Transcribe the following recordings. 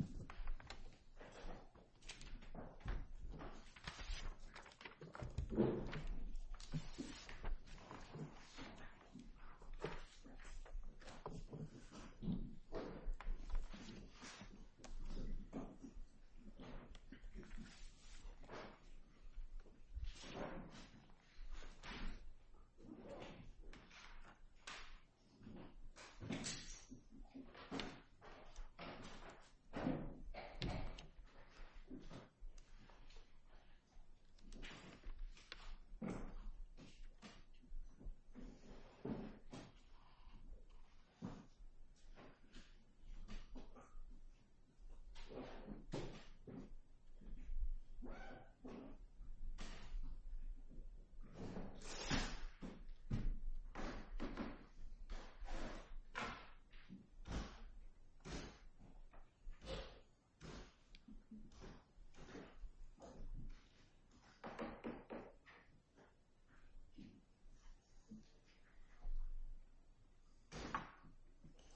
uh...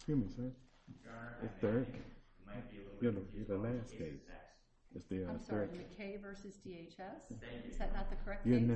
q camp that it the the you the you in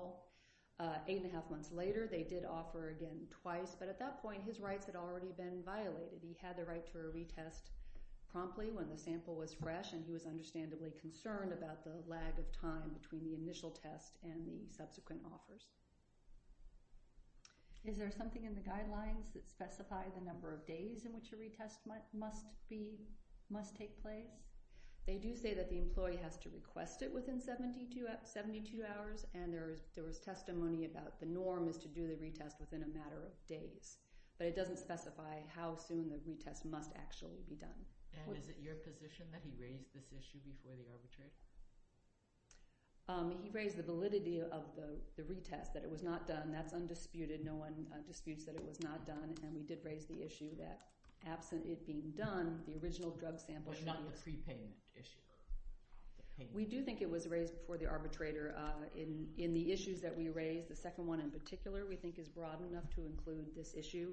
you you you you you yeah first time or hey yeah uh... uh... missile path uh... uh... they do say that the employee has to request it within seventy two hours and there was testimony about the norm is to do the retest within a matter of days but it doesn't specify how soon the retest must actually be done and is it your position that he raised this issue before the arbitration? uh... he raised the validity of the retest that it was not done that's absent it being done the original drug sample should be but not the pre-payment issue? we do think it was raised before the arbitrator uh... in in the issues that we raised the second one in particular we think is broad enough to include this issue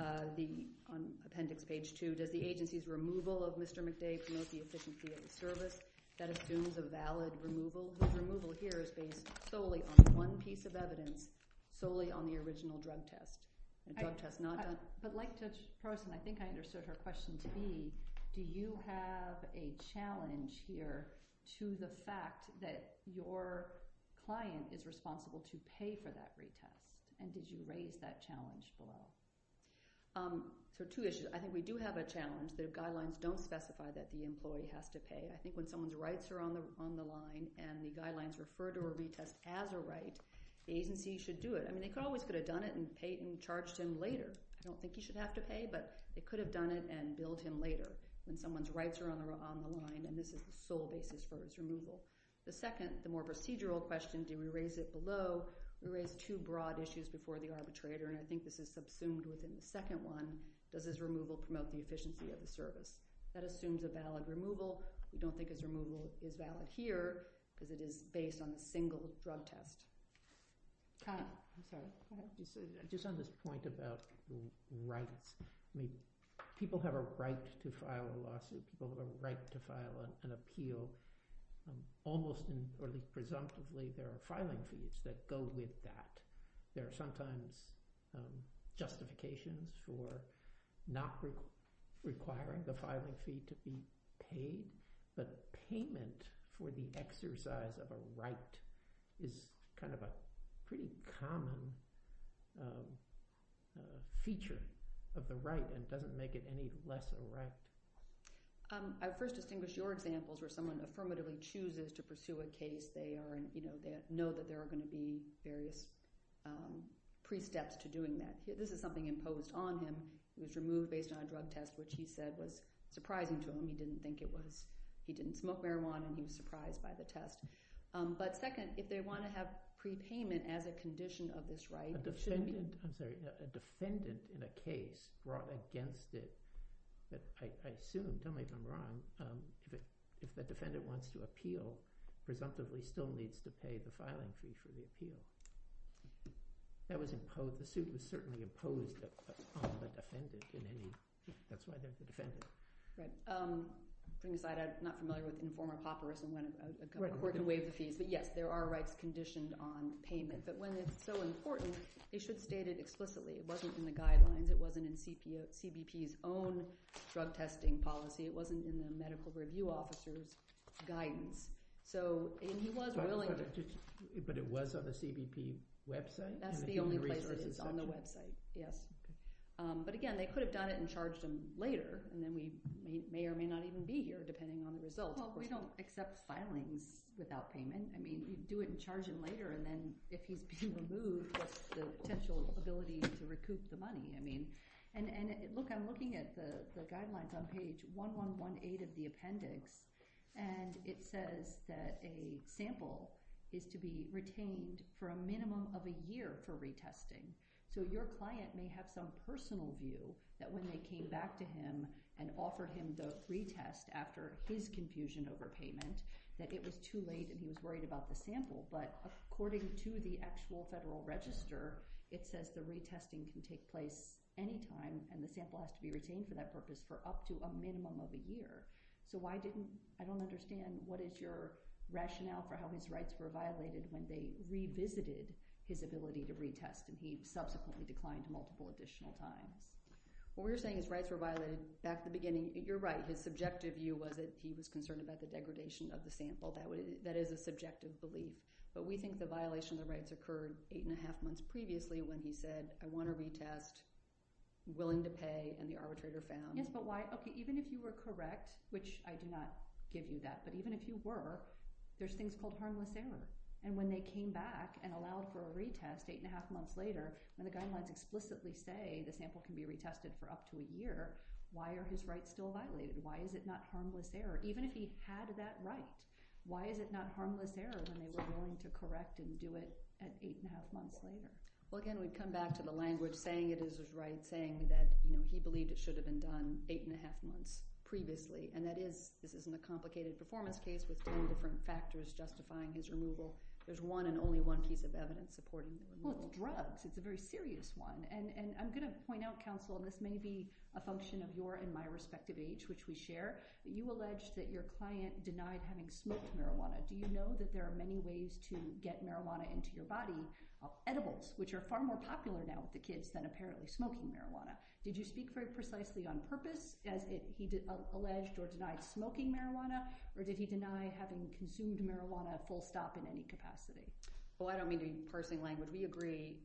uh... the on appendix page two does the agency's removal of Mr. McDade promote the efficiency of the service? that assumes a valid removal whose removal here is based solely on one piece of evidence solely on the original drug test drug test not done but like Judge Prossen I think I understood her question to be do you have a challenge here to the fact that your client is responsible to pay for that retest and did you raise that challenge for her? so two issues I think we do have a challenge the guidelines don't specify that the employee has to pay I think when someone's rights are on the line and the guidelines refer to a retest as a right the agency should do it I mean they could always could have done it and charged him later I don't think he should have to pay but they could have done it and billed him later when someone's rights are on the line and this is the sole basis for his removal the second the more procedural question do we raise it below we raised two broad issues before the arbitrator and I think this is subsumed within the second one does his removal promote the efficiency of the service? that assumes a valid removal we don't think his removal is valid here because it is based on a single drug test Kyle just on this point about rights I mean people have a right to file a lawsuit people have a right to file an appeal almost presumptively there are filing fees that go with that there are sometimes justifications for not requiring the filing fee to be paid the payment for the exercise of a right is kind of a pretty common feature of the right and doesn't make it any less a right I first distinguished your examples where someone affirmatively chooses to pursue a case they know that there are going to be various pre-steps to doing that this is something imposed on him it was removed based on a drug test which he said was he didn't smoke marijuana and he was surprised by the test but second if they want to have prepayment as a condition of this right a defendant in a case brought against it I assume, tell me if I'm wrong if the defendant wants to appeal presumptively still needs to pay the filing fee for the appeal that was imposed, the suit was certainly imposed on the defendant that's why there's a defendant I'm not familiar with informer papyrus there are rights conditioned on payment but when it's so important it should state it explicitly it wasn't in the guidelines, it wasn't in CBP's own drug testing policy it wasn't in the medical review officer's guidance but it was on the CBP website? that's the only place it is on the website but again they could have done it and charged him later and then we may or may not even be here depending on the results we don't accept filings without payment we do it and charge him later and then if he's being removed what's the potential ability to recoup the money I'm looking at the guidelines on page 1118 of the appendix and it says that a sample is to be retained for a minimum of a year for retesting so your client may have some personal view that when they came back to him and offered him the retest after his confusion over payment that it was too late and he was worried about the sample but according to the actual federal register it says the retesting can take place anytime and the sample has to be retained for that purpose for up to a minimum of a year so I don't understand what is your rationale for how his rights were violated when they revisited his ability to retest and he subsequently declined multiple additional times what we're saying is his rights were violated back at the beginning you're right his subjective view was that he was concerned about the degradation of the sample that is a subjective belief but we think the violation of the rights occurred eight and a half months previously when he said I want to retest, willing to pay and the arbitrator found yes but why? even if you were correct which I do not give you that but even if you were there's things called harmless error and when they came back and allowed for a retest eight and a half months later when the guidelines explicitly say the sample can be retested for up to a year why are his rights still violated? why is it not harmless error? even if he had that right why is it not harmless error when they were willing to correct and do it at eight and a half months later? well again we come back to the language saying it is his right saying that he believed it should have been done eight and a half months previously and that is this isn't a complicated performance case with ten different factors justifying his removal there's one and only one piece of evidence supporting the removal well it's drugs it's a very serious one and I'm going to point out counsel this may be a function of your and my respective age which we share that you allege that your client denied having smoked marijuana do you know that there are many ways to get marijuana into your body of edibles which are far more popular now with the kids than apparently smoking marijuana did you speak very precisely on purpose as he alleged or denied smoking marijuana or did he deny having consumed marijuana full stop in any capacity well I don't mean to be parsing language we agree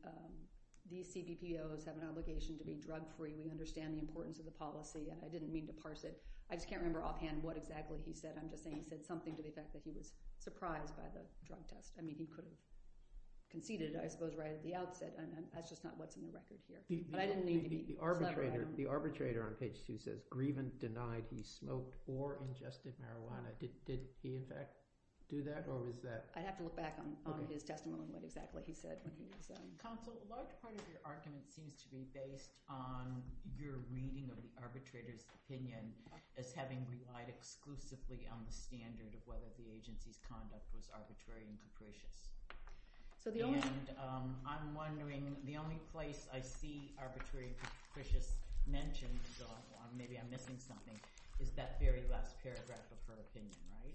these CBPOs have an obligation to be drug free we understand the importance of the policy and I didn't mean to parse it I just can't remember offhand what exactly he said I'm just saying he said something to the effect that he was surprised by the drug test I mean he could have conceded I suppose right at the outset that's just not what's in the record here but I didn't mean to be the arbitrator on page two says grievant denied he smoked or ingested marijuana did he in fact do that or was that I'd have to look back on his testimony on what exactly he said counsel a large part of your argument seems to be based on your reading of the arbitrator's opinion as having relied exclusively on the standard of whether the agency's conduct was arbitrary and capricious and I'm wondering the only place I see arbitrary and capricious mentioned maybe I'm missing something is that very last paragraph of her opinion right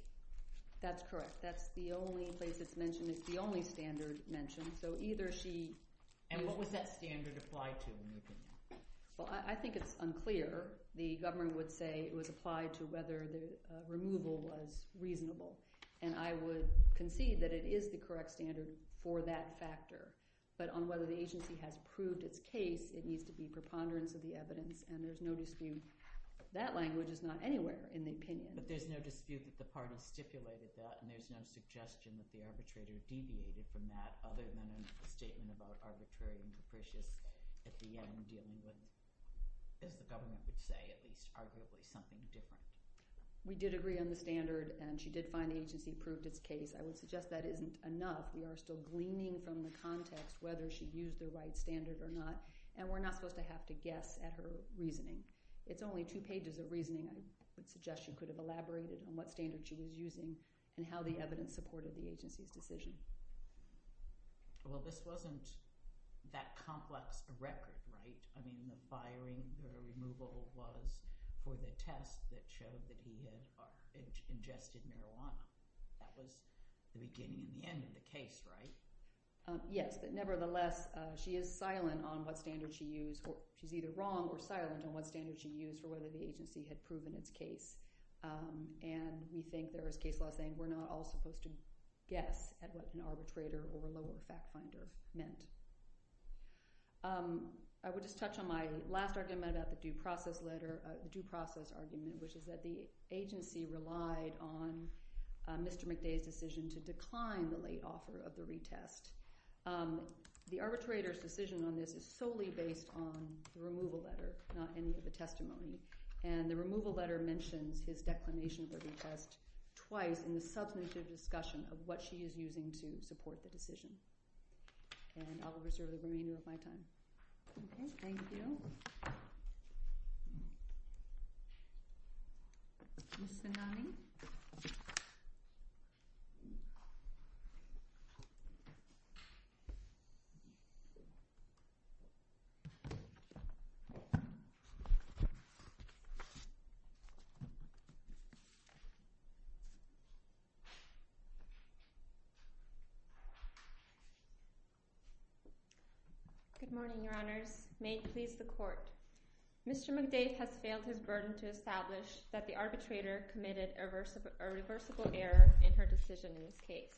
that's correct that's the only place it's mentioned it's the only standard mentioned so either she and what was that standard applied to in your opinion well I think it's unclear the government would say it was applied to whether the removal was reasonable and I would concede that it is the correct standard for that factor but on whether the agency has proved its case it needs to be preponderance of the evidence and there's no dispute that language is not anywhere in the opinion but there's no dispute that the party stipulated that and there's no suggestion that the arbitrator deviated from that other than a statement about arbitrary and capricious at the end dealing with as the government would say at least arguably something different we did agree on the standard and she did find the agency proved its case I would suggest we are still gleaning from the context whether she used the right standard or not and we're not supposed to have to guess at her reasoning it's only two pages of reasoning I would suggest you could have elaborated on what standard she was using and how the evidence supported the agency's decision Well this wasn't that complex a record right I mean the firing the removal was for the test that showed that he had ingested marijuana that was the beginning and the end of the case right Yes but nevertheless she is silent on what standard she used she's either wrong or silent on what standard she used for whether the agency had proven its case and we think there is case law saying we're not all supposed to guess at what an arbitrator or lower fact finder meant I would just touch on my last argument about the due process letter due process argument which is that the agency relied on Mr. McDade's decision to decline the late offer of the retest the arbitrator's decision on this is solely based on the removal letter not any of the testimony and the removal letter mentions his declination of the retest twice in the substantive discussion of what she is using to support the decision and I will reserve the remainder of my time Thank you Ms. Vennani Good morning, your honors May it please the court Mr. McDade has failed his burden to establish that the arbitrator committed a reversible error in her decision in this case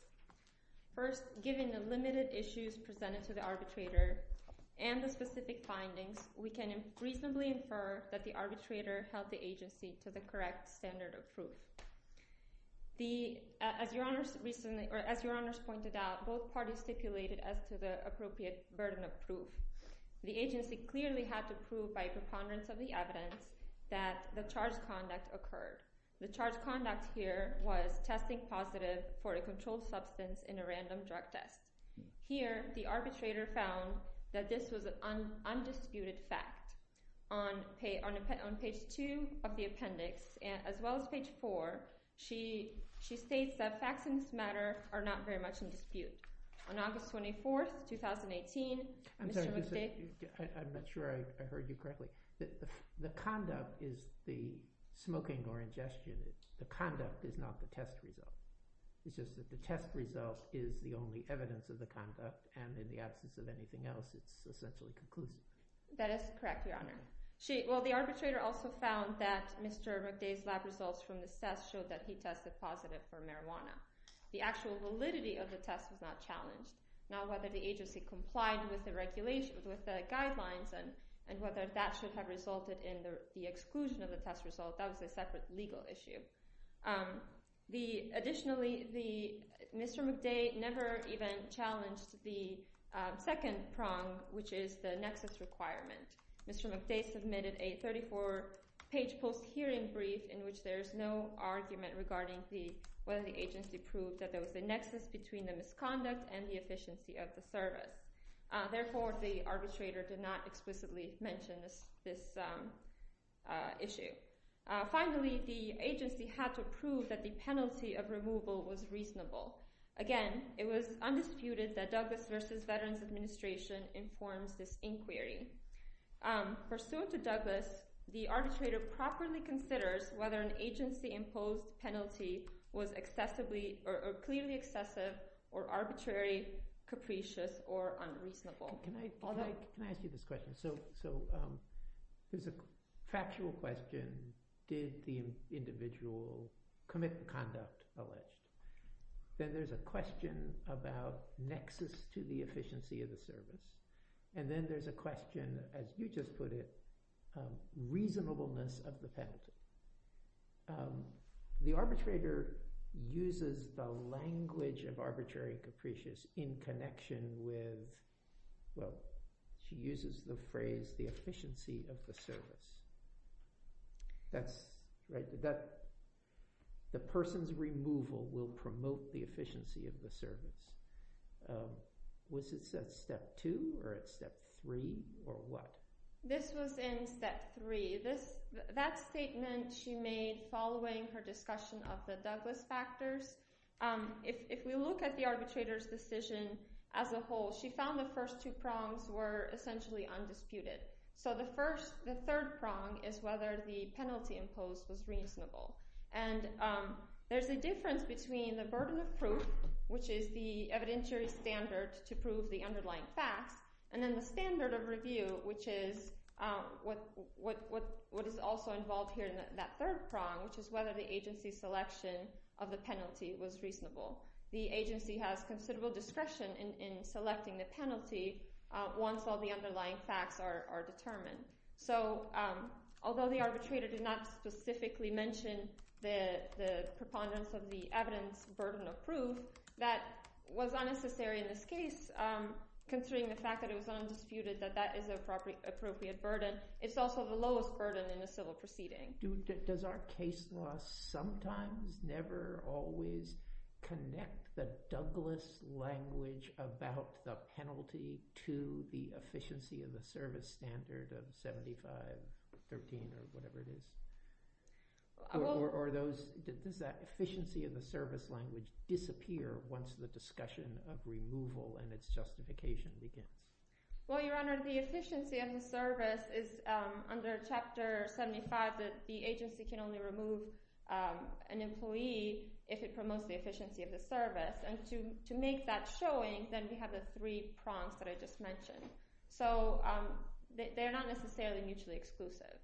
First, infer that the arbitrator has made a reasonable error in her decision in this case First, given the limited issues presented to the arbitrator and the specific evidence the arbitrator held the agency to the correct standard of proof as your honors pointed out both parties stipulated as to the appropriate burden of proof the agency clearly had to prove by preponderance of the evidence that the charged conduct occurred the charged conduct here was testing positive for a controlled substance in a random drug test here the arbitrator found that this was an undisputed fact on page two of the appendix as well as page four she states that facts in this matter are not very much in dispute on August 24th 2018 Mr. McDade I'm not sure I heard you correctly the conduct is the smoking or ingestion the conduct is not the test result it's just that the test result is the only evidence of the conduct and in the absence of anything else it's essentially conclusive that is correct your honor well the arbitrator also found that Mr. McDade's lab results from the test showed that he tested positive for marijuana the actual validity of the test was not challenged now whether the agency complied with the regulations with the test results Mr. McDade never even challenged the second prong which is the nexus requirement Mr. McDade submitted a 34 page post hearing brief in which there is no argument regarding whether the agency proved that there was a nexus between the misconduct and the efficiency of the service therefore the arbitrator did not explicitly mention this issue finally the agency had to prove that the penalty of removal was reasonable again it was undisputed that Douglas vs. the agency was not substantive or arbitrary capricious or unreasonable Can I ask you this question so there's a factual question did the individual commit the conduct alleged then there's a question about nexus to the efficiency of the service and then there's a question as you just put it reasonableness of the penalty the arbitrator uses the language of arbitrary capricious in connection with well she uses the phrase the efficiency of the service that's what the question is was it said step 2 or step 3 or what this was in step 3 that statement she made following her discussion of the Douglas factors if and there's a difference between the burden of proof which is the evidentiary standard to prove the underlying facts and then the standard of review which is what is also involved in that third prong which is whether the agency selection of the penalty was reasonable the agency has considerable discretion in selecting the penalty once all the underlying facts are determined so although the arbitrator did not specifically mention the preponderance of the evidence burden of proof that was unnecessary in this case considering the fact that it was undisputed that that is a appropriate burden it's also the lowest burden in a civil proceeding does our case law sometimes never always connect the Douglas language about the penalty to the agency that the agency can only remove an employee if it promotes the efficiency of the and to make that showing we have the three prongs I just mentioned so they're not necessarily mutually exclusive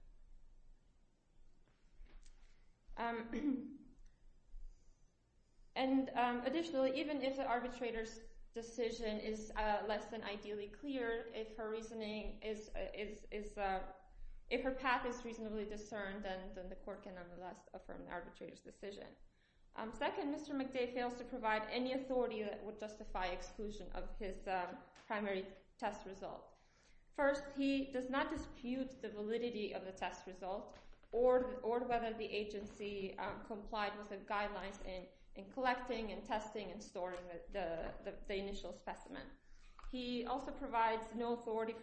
and um the additionally even if the arbitrator's decision is less than ideally clear if her reasoning is if her path is reasonably discerned then the court can nevertheless affirm the arbitrator's decision second Mr. McDay fails to provide any authority that would justify exclusion of his primary test result first he does not dispute the validity of the test result or whether the agency complied with the guidelines in collecting and testing and storing the initial specimen he also does not question who gets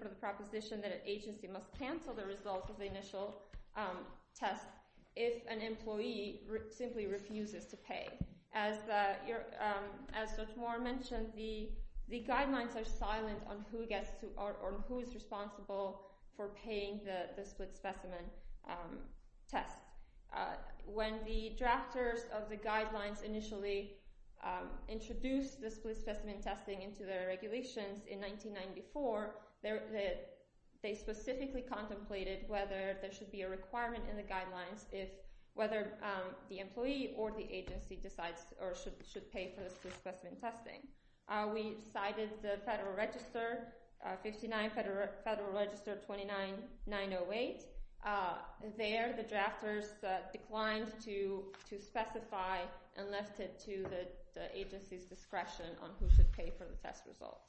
or who's responsible for paying the split specimen test when the drafters of the guidelines initially introduced the split specimen testing into the regulations in the federal register 59 federal register 29908 there the drafters declined to specify and left it to the agency's discretion on who should pay for the test result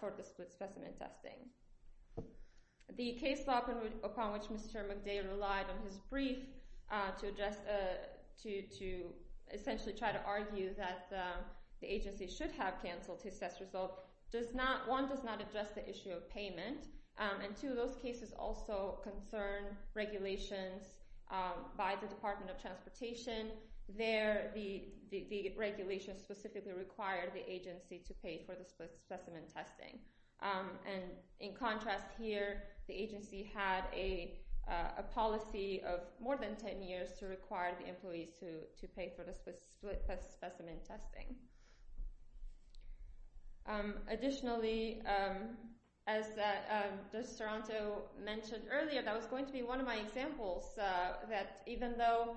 for the split specimen testing and in contrast here the agency had a policy of more than 10 years to require the employees to pay for the split specimen testing additionally the agency as the soronto mentioned earlier that was going to be one of my examples that even though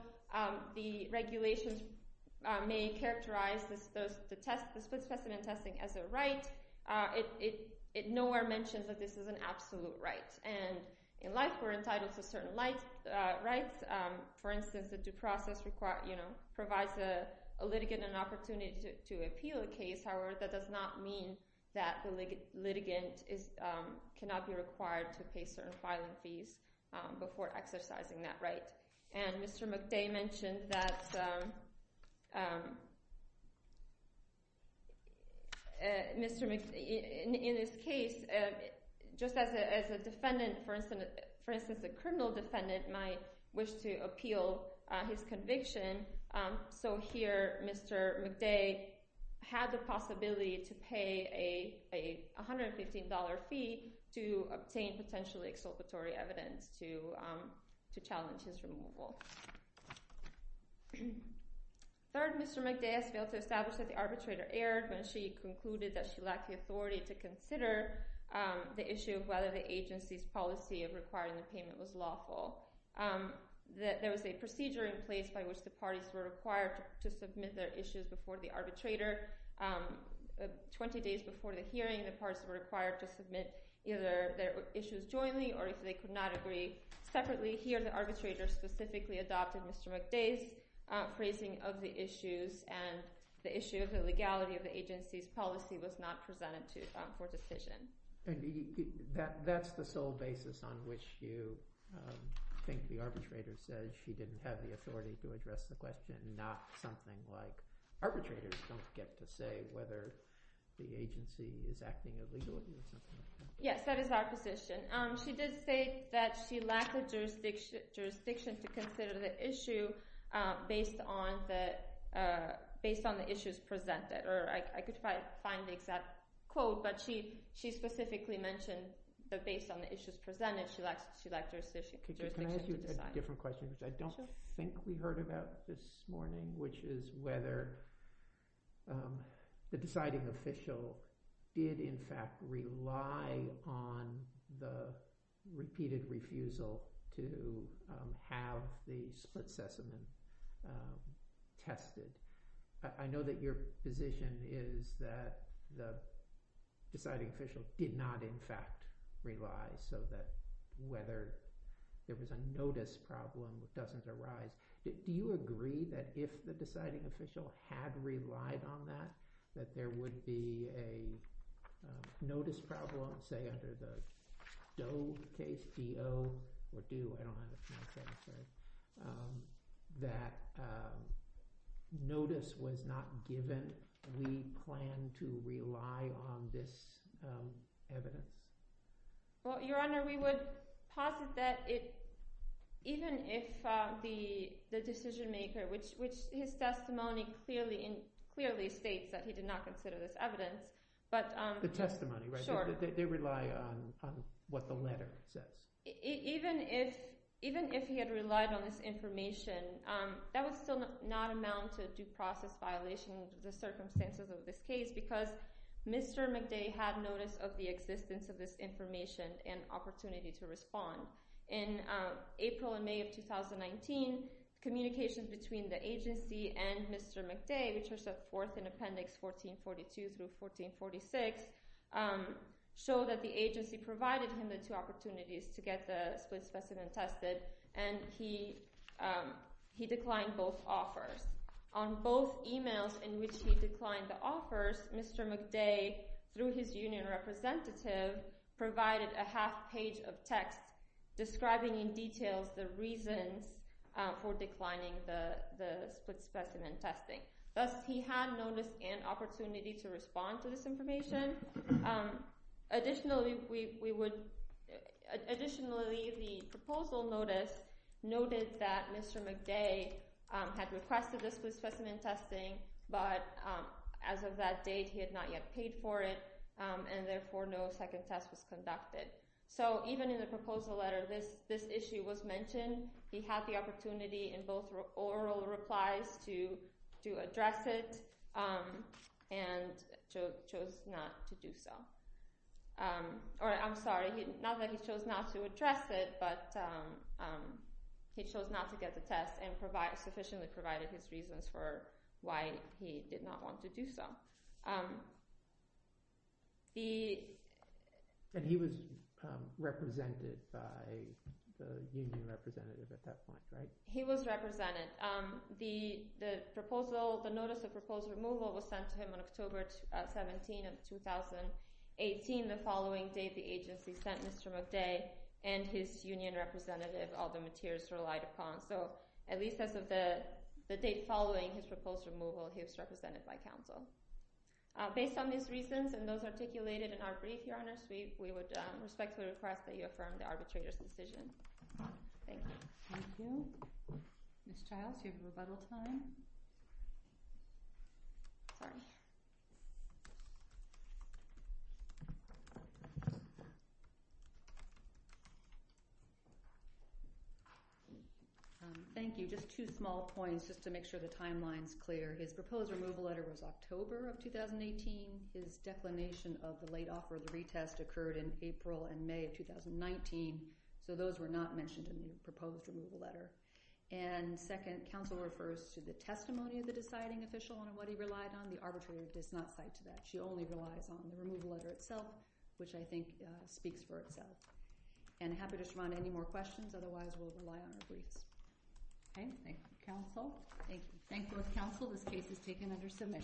the regulations may characterize the split specimen testing as a right it nowhere mentions that this is an absolute right and in life we're entitled certain rights for instance the due process provides a litigant an opportunity to appeal a case however that does not mean that the litigant cannot be required to pay certain filing fees before exercising that right and Mr. McDay mentioned that Mr. McDay in this case just as a defendant for instance a criminal defendant might wish to appeal his conviction so here Mr. McDay had the possibility to pay a $115 fee to obtain potentially exculpatory evidence to challenge his removal third Mr. McDay failed to establish that McDay did not have the authority to consider the issue of whether the agency's policy of requiring the payment was lawful there was a procedure in place by which the parties were to decide whether the issue of the legality of the agency's policy was not presented to for decision that's the sole basis on which you think the arbitrator said she didn't have the authority to address the question not something like arbitrators don't get to say whether the agency is acting legally yes that is our position she did say that she lacked the jurisdiction to consider the issue based on the issues presented or I could find the exact quote but she specifically mentioned based on the issues presented she lacked jurisdiction to decide I don't think we heard about this morning which is whether the deciding official did in fact rely on the repeated refusal to have the split specimen tested I know that your position is that the deciding official did not in fact rely so that whether there was a notice problem doesn't arise do you agree that if the deciding official had relied on that that there would be a notice problem say under the Doe case DO that notice was not given we plan to rely on this evidence your honor we would posit that even if the decision maker which his testimony clearly states he did not consider this evidence but the testimony they rely on what the letter says even if even if he had relied on this information that would still not amount to due process violations of this case because Mr. McDay had notice of the existence of this information and opportunity to respond in April and May of 2019 communication between the agency and Mr. McDay which was a fourth in April May of 2019 when Mr. McDay through his union representative provided a half page of text describing in detail the reasons for declining the split specimen testing thus he had noticed an opportunity to respond to this information additionally the proposal notice noted that Mr. McDay had requested split specimen testing but as of that date he had not yet paid for it and therefore no second test was conducted so even in the proposal letter this issue was mentioned he had the opportunity in both oral replies to address it and chose not to do so he chose not to address it but he chose not to get the test and sufficiently provided his reasons for why he did not want to do so um the and he was represented by the union representative at that point right he was represented um the the proposal the notice of proposed removal was sent to him on October 17 of 2018 the following date the agency sent Mr. McDay and his union representative all the materials relied upon so at least as of the date following his proposal for proposed removal he was represented by counsel based on these reasons we would respectfully request that you affirm the arbitrator's decision thank you Ms. Childs your rebuttal time sorry thank you so I just have two small points just to make sure the timeline is clear his proposed removal letter was October of 2018 the late offer occurred in April and thank you council thank you thank you council this case is taken under